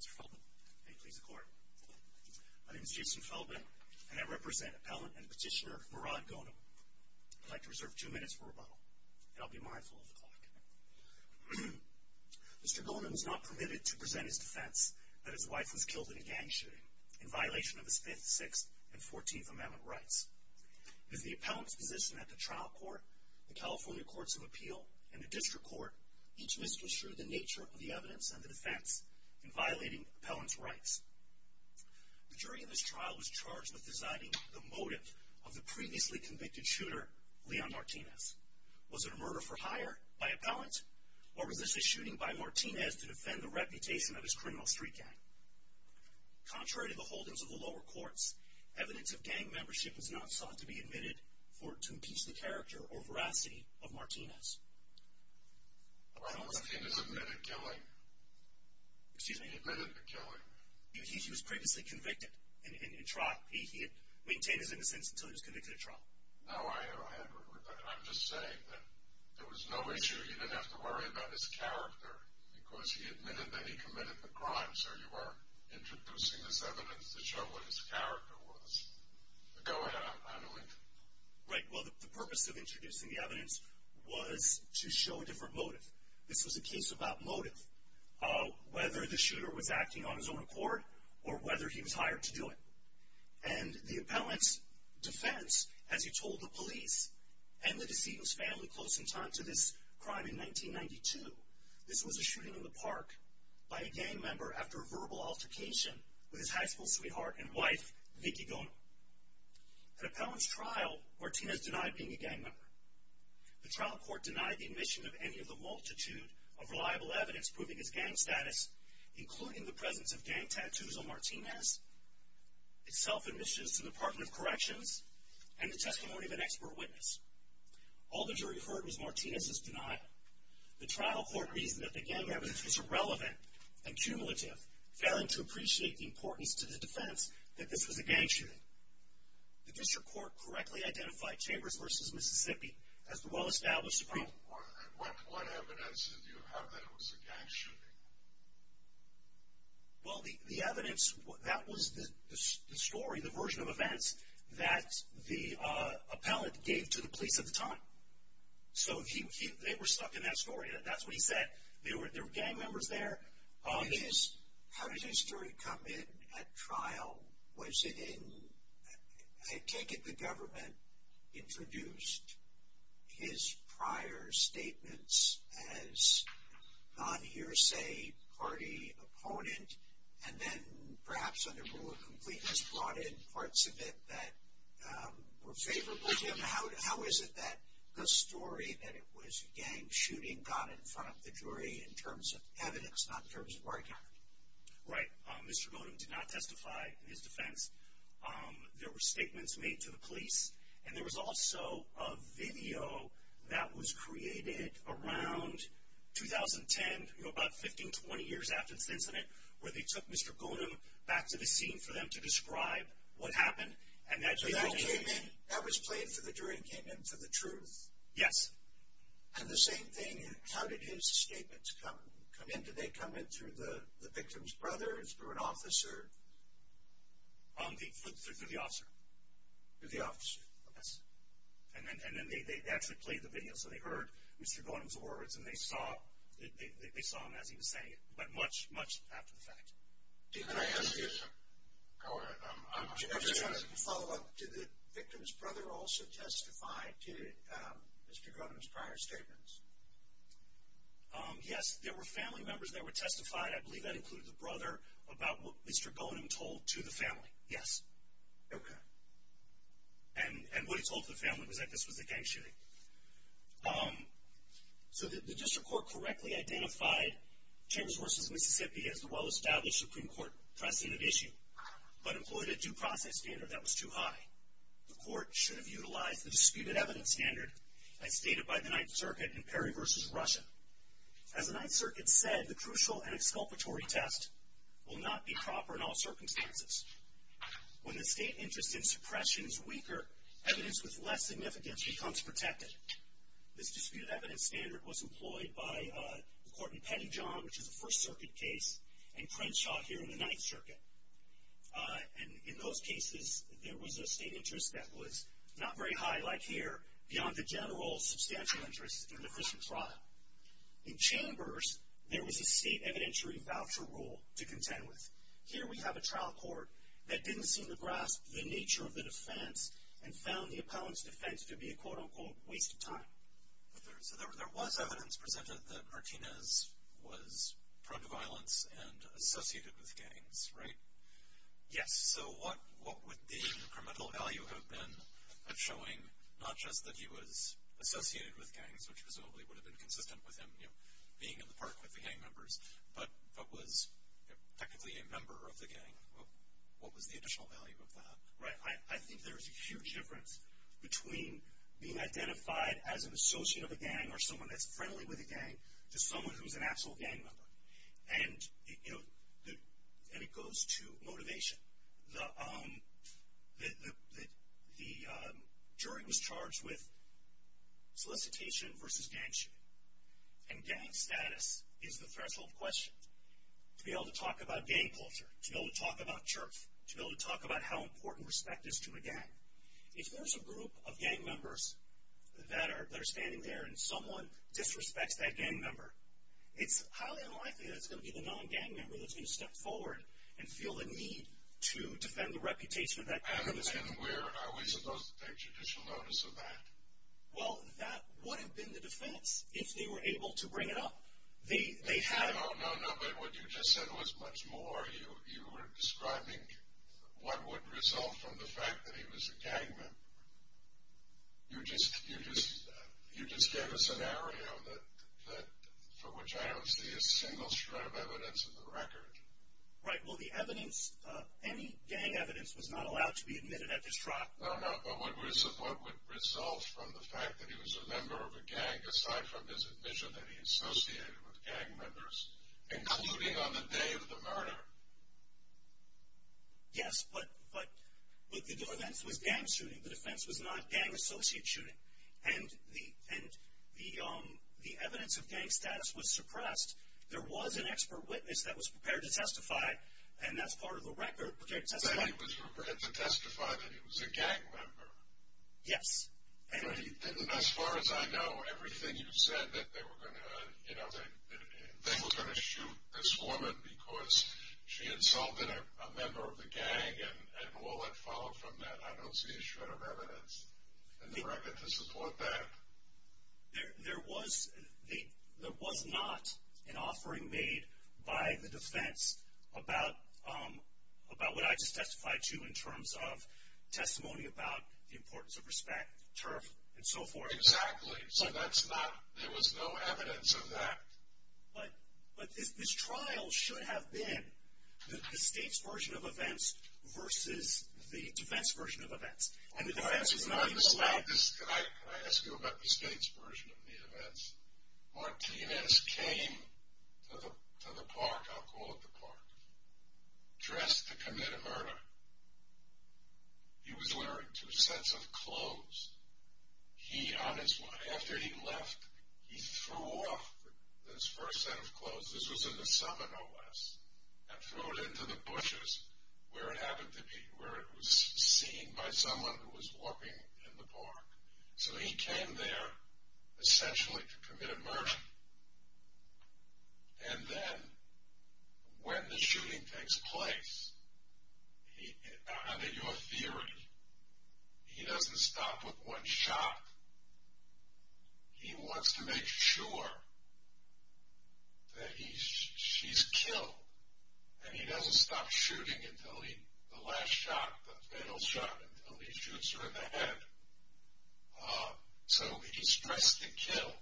Mr. Feldman, may it please the Court. My name is Jason Feldman, and I represent Appellant and Petitioner Morrad Ghonim. I'd like to reserve two minutes for rebuttal, and I'll be mindful of the clock. Mr. Ghonim was not permitted to present his defense that his wife was killed in a gang shooting, in violation of his Fifth, Sixth, and Fourteenth Amendment rights. With the Appellant's position at the Trial Court, the California Courts of Appeal, and the District Court, each misconstrued the nature of the evidence and the defense in violating Appellant's rights. The jury in this trial was charged with deciding the motive of the previously convicted shooter, Leon Martinez. Was it a murder for hire by Appellant, or was this a shooting by Martinez to defend the reputation of his criminal street gang? Contrary to the holdings of the lower courts, evidence of gang membership was not sought to be admitted to impeach the character or veracity of Martinez. Why don't Martinez admit a killing? Excuse me? He admitted a killing. He was previously convicted in trial. He had maintained his innocence until he was convicted of trial. No, I'm just saying that there was no issue. You didn't have to worry about his character, because he admitted that he committed the crime, so you were introducing this evidence to show what his character was. Go ahead, I'm going to interrupt. Right, well, the purpose of introducing the evidence was to show a different motive. This was a case about motive, whether the shooter was acting on his own accord or whether he was hired to do it. And the Appellant's defense, as he told the police and the deceitful's family close in time to this crime in 1992, this was a shooting in the park by a gang member after a verbal altercation with his high school sweetheart and wife, Vicky Goner. At Appellant's trial, Martinez denied being a gang member. The trial court denied the admission of any of the multitude of reliable evidence proving his gang status, including the presence of gang tattoos on Martinez, his self-admissions to the Department of Corrections, and the testimony of an expert witness. All the jury heard was Martinez's denial. The trial court reasoned that the gang evidence was irrelevant and cumulative, failing to appreciate the importance to the defense that this was a gang shooting. The district court correctly identified Chambers v. Mississippi as the well-established crime. What evidence do you have that it was a gang shooting? Well, the evidence, that was the story, the version of events that the Appellant gave to the police at the time. So they were stuck in that story. That's what he said. There were gang members there. How did his story come in at trial? Was it in, I take it the government introduced his prior statements as non-hearsay party opponent, and then perhaps under rule of completeness brought in parts of it that were favorable to him? How is it that the story that it was a gang shooting got in front of the jury in terms of evidence, not in terms of word count? Right. Mr. Godin did not testify in his defense. There were statements made to the police, and there was also a video that was created around 2010, about 15, 20 years after this incident, where they took Mr. Godin back to the scene for them to describe what happened. So that came in, that was played for the jury and came in for the truth? Yes. And the same thing, how did his statements come in? Did they come in through the victim's brother or through an officer? Through the officer. Through the officer. Yes. And then they actually played the video, so they heard Mr. Godin's words, and they saw him as he was saying it, but much, much after the fact. Can I ask you something? I'm just trying to follow up. Did the victim's brother also testify to Mr. Godin's prior statements? Yes, there were family members that were testified. I believe that included the brother about what Mr. Godin told to the family, yes. Okay. And what he told the family was that this was a gang shooting. So the district court correctly identified Chambers v. Mississippi as the well-established Supreme Court precedent issue, but employed a due process standard that was too high. The court should have utilized the disputed evidence standard as stated by the Ninth Circuit in Perry v. Russia. As the Ninth Circuit said, the crucial and exculpatory test will not be proper in all circumstances. When the state interest in suppression is weaker, evidence with less significance becomes protected. This disputed evidence standard was employed by the court in Pettyjohn, which is a First Circuit case, and Crenshaw here in the Ninth Circuit. And in those cases, there was a state interest that was not very high, like here, beyond the general substantial interest in an efficient trial. In Chambers, there was a state evidentiary voucher rule to contend with. Here we have a trial court that didn't seem to grasp the nature of the defense and found the opponent's defense to be a quote-unquote waste of time. So there was evidence presented that Martinez was prone to violence and associated with gangs, right? Yes. So what would the incremental value have been of showing not just that he was associated with gangs, which presumably would have been consistent with him being in the park with the gang members, but was technically a member of the gang? What was the additional value of that? Right? I think there's a huge difference between being identified as an associate of a gang or someone that's friendly with a gang to someone who's an actual gang member. And, you know, it goes to motivation. The jury was charged with solicitation versus gang shooting, and gang status is the threshold question. To be able to talk about gang culture, to be able to talk about jerks, to be able to talk about how important respect is to a gang. If there's a group of gang members that are standing there and someone disrespects that gang member, it's highly unlikely that it's going to be the non-gang member that's going to step forward and feel the need to defend the reputation of that gang member. And are we supposed to take judicial notice of that? Well, that would have been the defense if they were able to bring it up. No, no, no, but what you just said was much more. You were describing what would result from the fact that he was a gang member. You just gave a scenario for which I don't see a single shred of evidence in the record. Right. Well, the evidence, any gang evidence was not allowed to be admitted at this trial. No, no, but what would result from the fact that he was a member of a gang, aside from his admission that he associated with gang members, including on the day of the murder? Yes, but the defense was gang shooting. The defense was not gang associate shooting. And the evidence of gang status was suppressed. There was an expert witness that was prepared to testify, and that's part of the record, prepared to testify. But he was prepared to testify that he was a gang member. Yes. And as far as I know, everything you've said, that they were going to shoot this woman because she insulted a member of the gang and all that followed from that, I don't see a shred of evidence in the record to support that. There was not an offering made by the defense about what I just testified to in terms of testimony about the importance of respect, turf, and so forth. Exactly. So there was no evidence of that. But this trial should have been the state's version of events versus the defense's version of events, and the defense was not even allowed. Can I ask you about the state's version of the events? Martinez came to the park, I'll call it the park, dressed to commit a murder. He was wearing two sets of clothes. After he left, he threw off his first set of clothes. This was in the summer, no less, and threw it into the bushes where it happened to be, where it was seen by someone who was walking in the park. So he came there essentially to commit a murder. And then when the shooting takes place, under your theory, he doesn't stop with one shot. He wants to make sure that she's killed, and he doesn't stop shooting until the last shot, the fatal shot, until he shoots her in the head. So he's dressed to kill,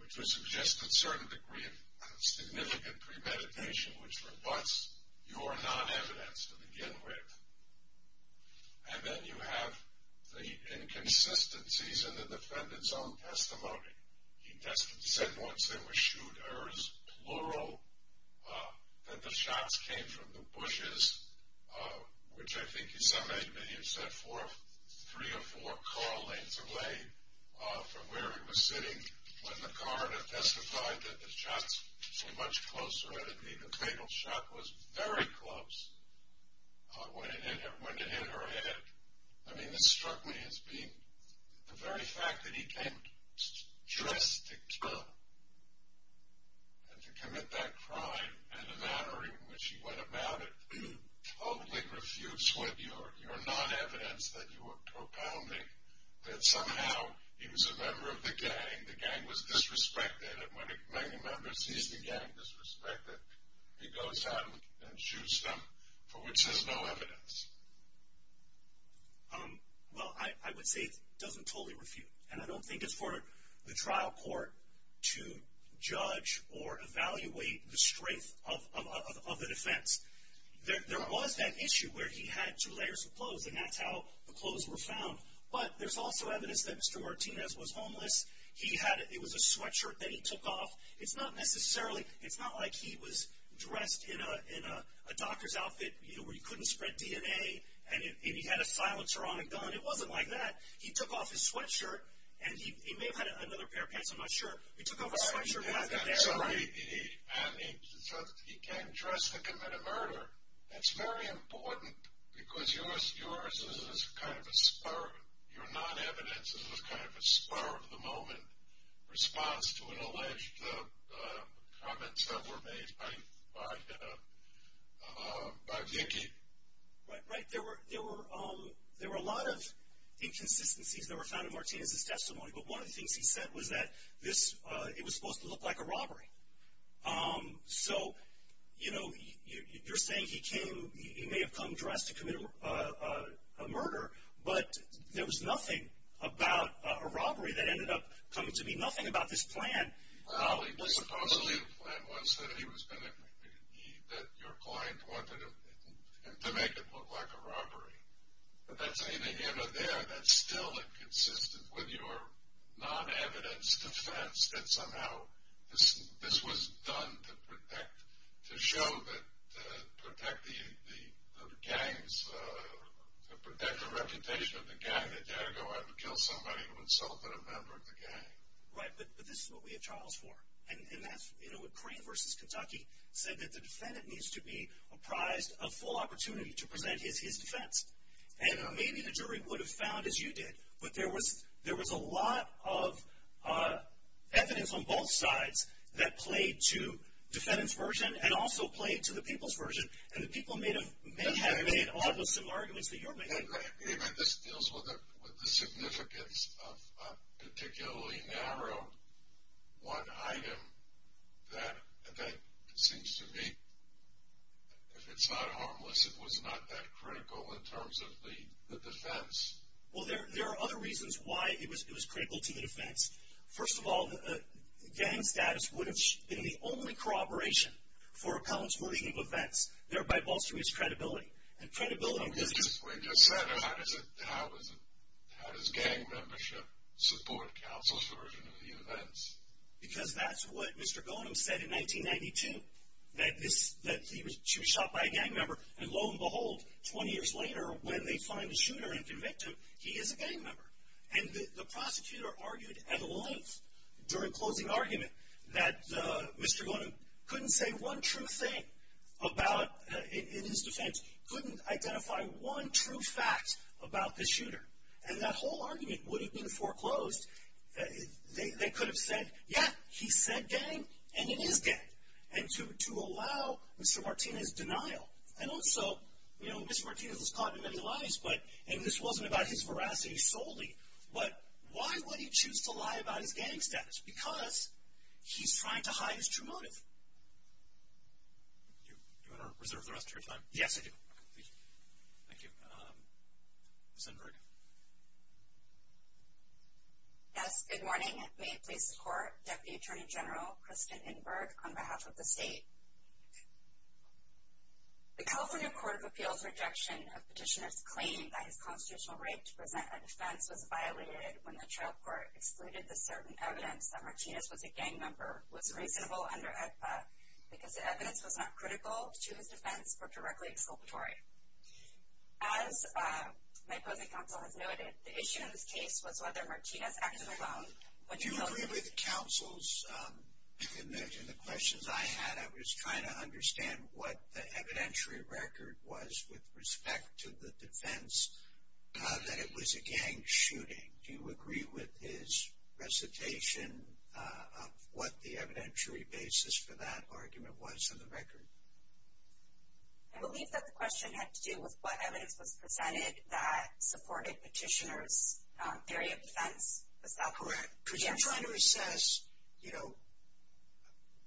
which would suggest a certain degree of significant premeditation, which rebutts your non-evidence to begin with. And then you have the inconsistencies in the defendant's own testimony. He said once there were shooters, plural, that the shots came from the bushes, which I think he said maybe he had set three or four car lanes away from where he was sitting. When the coroner testified that the shots came much closer, it would be the fatal shot was very close when it hit her head. I mean, this struck me as being the very fact that he came dressed to kill and to commit that crime in a manner in which he went about it totally refutes with your non-evidence that you were propounding that somehow he was a member of the gang, the gang was disrespected, and when a member sees the gang disrespected, he goes out and shoots them, for which there's no evidence. Well, I would say it doesn't totally refute, and I don't think it's for the trial court to judge or evaluate the strength of the defense. There was that issue where he had two layers of clothes and that's how the clothes were found, but there's also evidence that Mr. Martinez was homeless. It was a sweatshirt that he took off. It's not like he was dressed in a doctor's outfit where you couldn't spread DNA and he had a silencer on a gun. It wasn't like that. He took off his sweatshirt, and he may have had another pair of pants, I'm not sure. He took off his sweatshirt and had that there, right? And he came dressed to commit a murder. That's very important because your non-evidence is kind of a spur of the moment response to an alleged comments that were made by Vicky. Right. There were a lot of inconsistencies that were found in Martinez's testimony, but one of the things he said was that it was supposed to look like a robbery. So, you know, you're saying he may have come dressed to commit a murder, but there was nothing about a robbery that ended up coming to be. Nothing about this plan. Supposedly the plan was that your client wanted him to make it look like a robbery, but that's anything in or there that's still inconsistent with your non-evidence defense that somehow this was done to protect, to show that, to protect the gangs, to protect the reputation of the gang, that you had to go out and kill somebody to insult a member of the gang. Right. But this is what we have trials for. And that's, you know, what Crain versus Kentucky said, that the defendant needs to be apprised of full opportunity to present his defense. And maybe the jury would have found, as you did, but there was a lot of evidence on both sides that played to defendant's version and also played to the people's version, and the people may have made all those similar arguments that you're making. I mean, this deals with the significance of a particularly narrow one item that, it seems to me, if it's not harmless, it was not that critical in terms of the defense. Well, there are other reasons why it was critical to the defense. First of all, gang status would have been the only corroboration for appellant's belief of offense, thereby bolstering his credibility. We just said, how does gang membership support counsel's version of the events? Because that's what Mr. Gonem said in 1992, that she was shot by a gang member, and lo and behold, 20 years later, when they find the shooter and convict him, he is a gang member. And the prosecutor argued at length during closing argument that Mr. Gonem couldn't say one true thing in his defense, couldn't identify one true fact about the shooter, and that whole argument would have been foreclosed. They could have said, yeah, he said gang, and it is gang, and to allow Mr. Martinez's denial. And also, you know, Mr. Martinez was caught in many lies, and this wasn't about his veracity solely, but why would he choose to lie about his gang status? Because he's trying to hide his true motive. Do you want to reserve the rest of your time? Yes, I do. Thank you. Ms. Inberg. Yes, good morning. May it please the Court, Deputy Attorney General Kristen Inberg on behalf of the state. The California Court of Appeals' rejection of petitioner's claim that his constitutional right to present a defense was violated when the trial court excluded the certain evidence that Martinez was a gang member was reasonable under AEDPA because the evidence was not critical to his defense or directly exculpatory. As my opposing counsel has noted, the issue in this case was whether Martinez acted alone. Do you agree with the counsel's, in the questions I had, I was trying to understand what the evidentiary record was with respect to the defense that it was a gang shooting. Do you agree with his recitation of what the evidentiary basis for that argument was in the record? I believe that the question had to do with what evidence was presented that supported petitioner's theory of defense. Is that correct? Correct. Because the petitioner says, you know,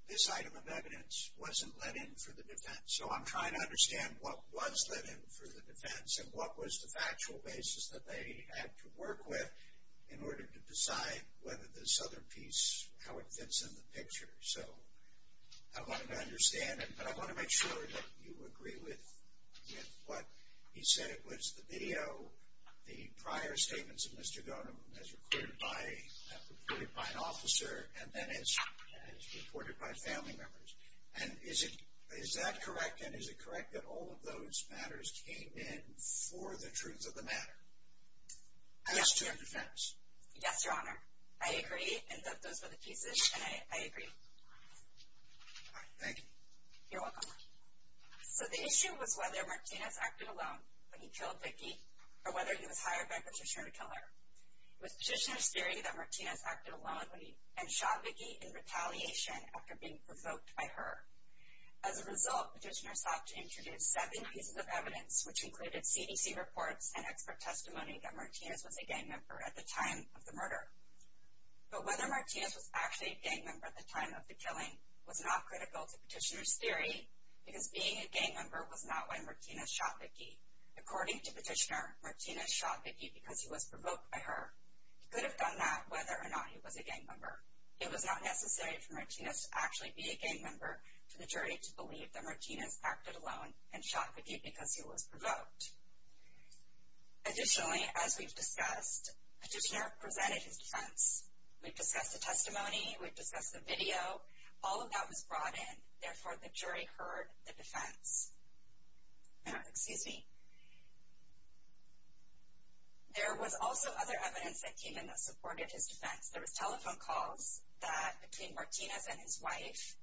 this item of evidence wasn't let in for the defense. So I'm trying to understand what was let in for the defense and what was the factual basis that they had to work with in order to decide whether this other piece, how it fits in the picture. So I want to understand it, but I want to make sure that you agree with what he said. It was the video, the prior statements of Mr. Donovan as reported by an officer and then as reported by family members. And is that correct? And is it correct that all of those matters came in for the truth of the matter as to a defense? Yes, Your Honor. I agree in that those were the pieces, and I agree. All right. Thank you. You're welcome. So the issue was whether Martinez acted alone when he killed Vicki or whether he was hired by a petitioner to kill her. It was petitioner's theory that Martinez acted alone and shot Vicki in retaliation after being provoked by her. As a result, petitioner sought to introduce seven pieces of evidence, which included CDC reports and expert testimony that Martinez was a gang member at the time of the murder. But whether Martinez was actually a gang member at the time of the killing was not critical to petitioner's theory because being a gang member was not when Martinez shot Vicki. According to petitioner, Martinez shot Vicki because he was provoked by her. He could have done that whether or not he was a gang member. It was not necessary for Martinez to actually be a gang member for the jury to believe that Martinez acted alone and shot Vicki because he was provoked. Additionally, as we've discussed, petitioner presented his defense. We've discussed the testimony. We've discussed the video. All of that was brought in. Therefore, the jury heard the defense. Excuse me. There was also other evidence that came in that supported his defense. There was telephone calls between Martinez and his wife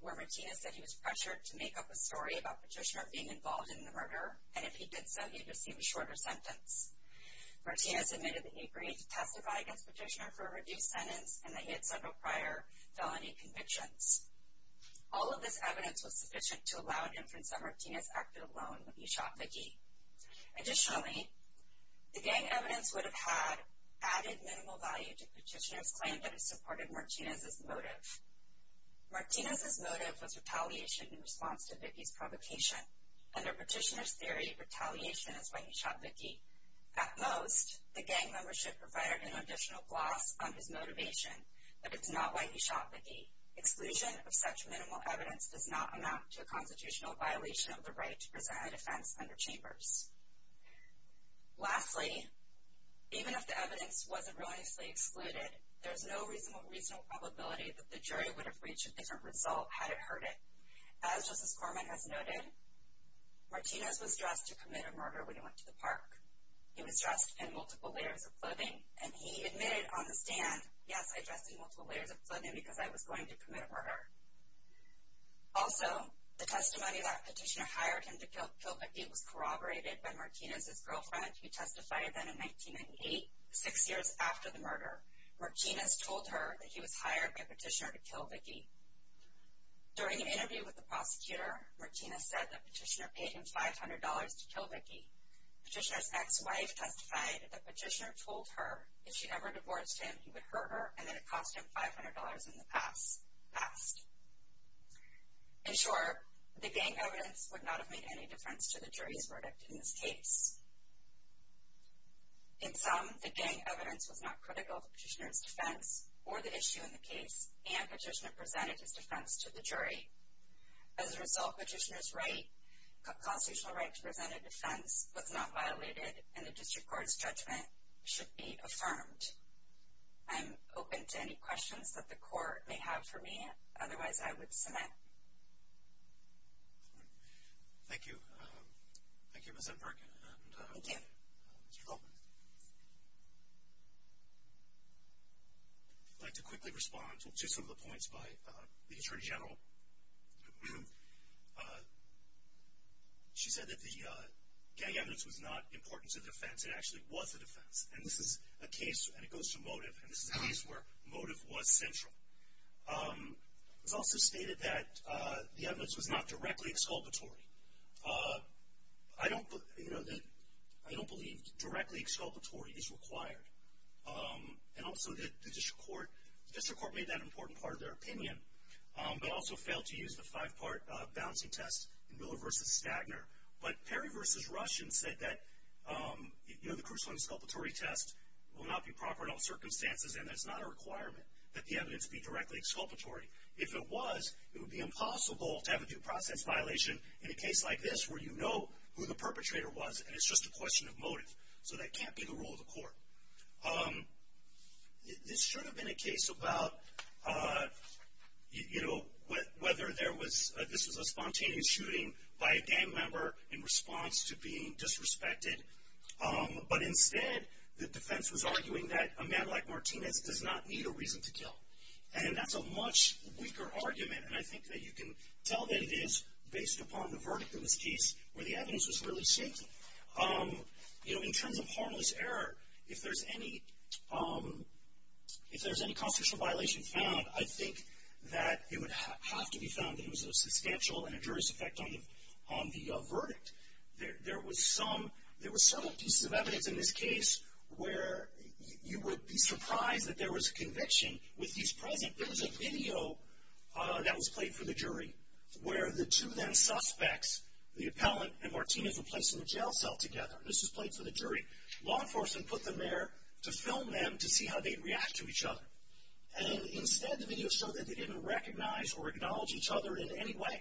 where Martinez said he was pressured to make up a story about petitioner being involved in the murder, and if he did so, he'd receive a shorter sentence. Martinez admitted that he agreed to testify against petitioner for a reduced sentence and that he had several prior felony convictions. All of this evidence was sufficient to allow an inference that Martinez acted alone when he shot Vicki. Additionally, the gang evidence would have added minimal value to petitioner's claim that it supported Martinez's motive. Martinez's motive was retaliation in response to Vicki's provocation. Under petitioner's theory, retaliation is why he shot Vicki. At most, the gang membership provided an additional gloss on his motivation, but it's not why he shot Vicki. Exclusion of such minimal evidence does not amount to a constitutional violation of the right to present a defense under Chambers. Lastly, even if the evidence wasn't relentlessly excluded, there's no reasonable probability that the jury would have reached a different result had it heard it. As Justice Corman has noted, Martinez was dressed to commit a murder when he went to the park. He was dressed in multiple layers of clothing, and he admitted on the stand, yes, I dressed in multiple layers of clothing because I was going to commit a murder. Also, the testimony that petitioner hired him to kill Vicki was corroborated by Martinez's girlfriend, who testified then in 1998, six years after the murder. Martinez told her that he was hired by petitioner to kill Vicki. During an interview with the prosecutor, Martinez said that petitioner paid him $500 to kill Vicki. Petitioner's ex-wife testified that petitioner told her if she ever divorced him, that he would hurt her, and that it cost him $500 in the past. In short, the gang evidence would not have made any difference to the jury's verdict in this case. In sum, the gang evidence was not critical to petitioner's defense or the issue in the case, and petitioner presented his defense to the jury. As a result, petitioner's constitutional right to present a defense was not violated, and the district court's judgment should be affirmed. I'm open to any questions that the court may have for me. Otherwise, I would submit. Thank you. Thank you, Ms. Enberg. Thank you. Mr. Goldman. I'd like to quickly respond to some of the points by the attorney general. She said that the gang evidence was not important to the defense. It actually was a defense. And this is a case, and it goes to motive, and this is a case where motive was central. It was also stated that the evidence was not directly exculpatory. I don't believe directly exculpatory is required. And also, the district court made that an important part of their opinion, but also failed to use the five-part balancing test in Miller v. Stagner. But Perry v. Russian said that, you know, the corresponding exculpatory test will not be proper in all circumstances, and that it's not a requirement that the evidence be directly exculpatory. If it was, it would be impossible to have a due process violation in a case like this where you know who the perpetrator was, and it's just a question of motive. So that can't be the rule of the court. This should have been a case about, you know, whether this was a spontaneous shooting by a gang member in response to being disrespected. But instead, the defense was arguing that a man like Martinez does not need a reason to kill. And that's a much weaker argument, and I think that you can tell that it is based upon the verdict of this case where the evidence was really shaky. You know, in terms of harmless error, if there's any constitutional violation found, I think that it would have to be found that it was a substantial and injurious effect on the verdict. There were several pieces of evidence in this case where you would be surprised that there was a conviction. With these present, there was a video that was played for the jury where the two then suspects, the appellant and Martinez, were placed in a jail cell together. This was played for the jury. Law enforcement put them there to film them to see how they'd react to each other. And instead, the video showed that they didn't recognize or acknowledge each other in any way.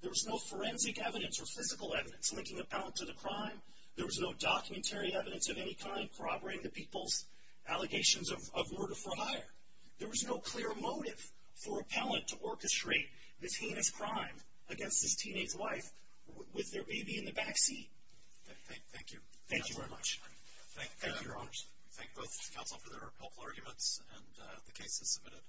There was no forensic evidence or physical evidence linking the appellant to the crime. There was no documentary evidence of any kind corroborating the people's allegations of murder for hire. There was no clear motive for appellant to orchestrate this heinous crime against his teenage wife with their baby in the back seat. Thank you. Thank you very much. Thank you, Your Honors. Thank both counsel for their helpful arguments and the cases submitted.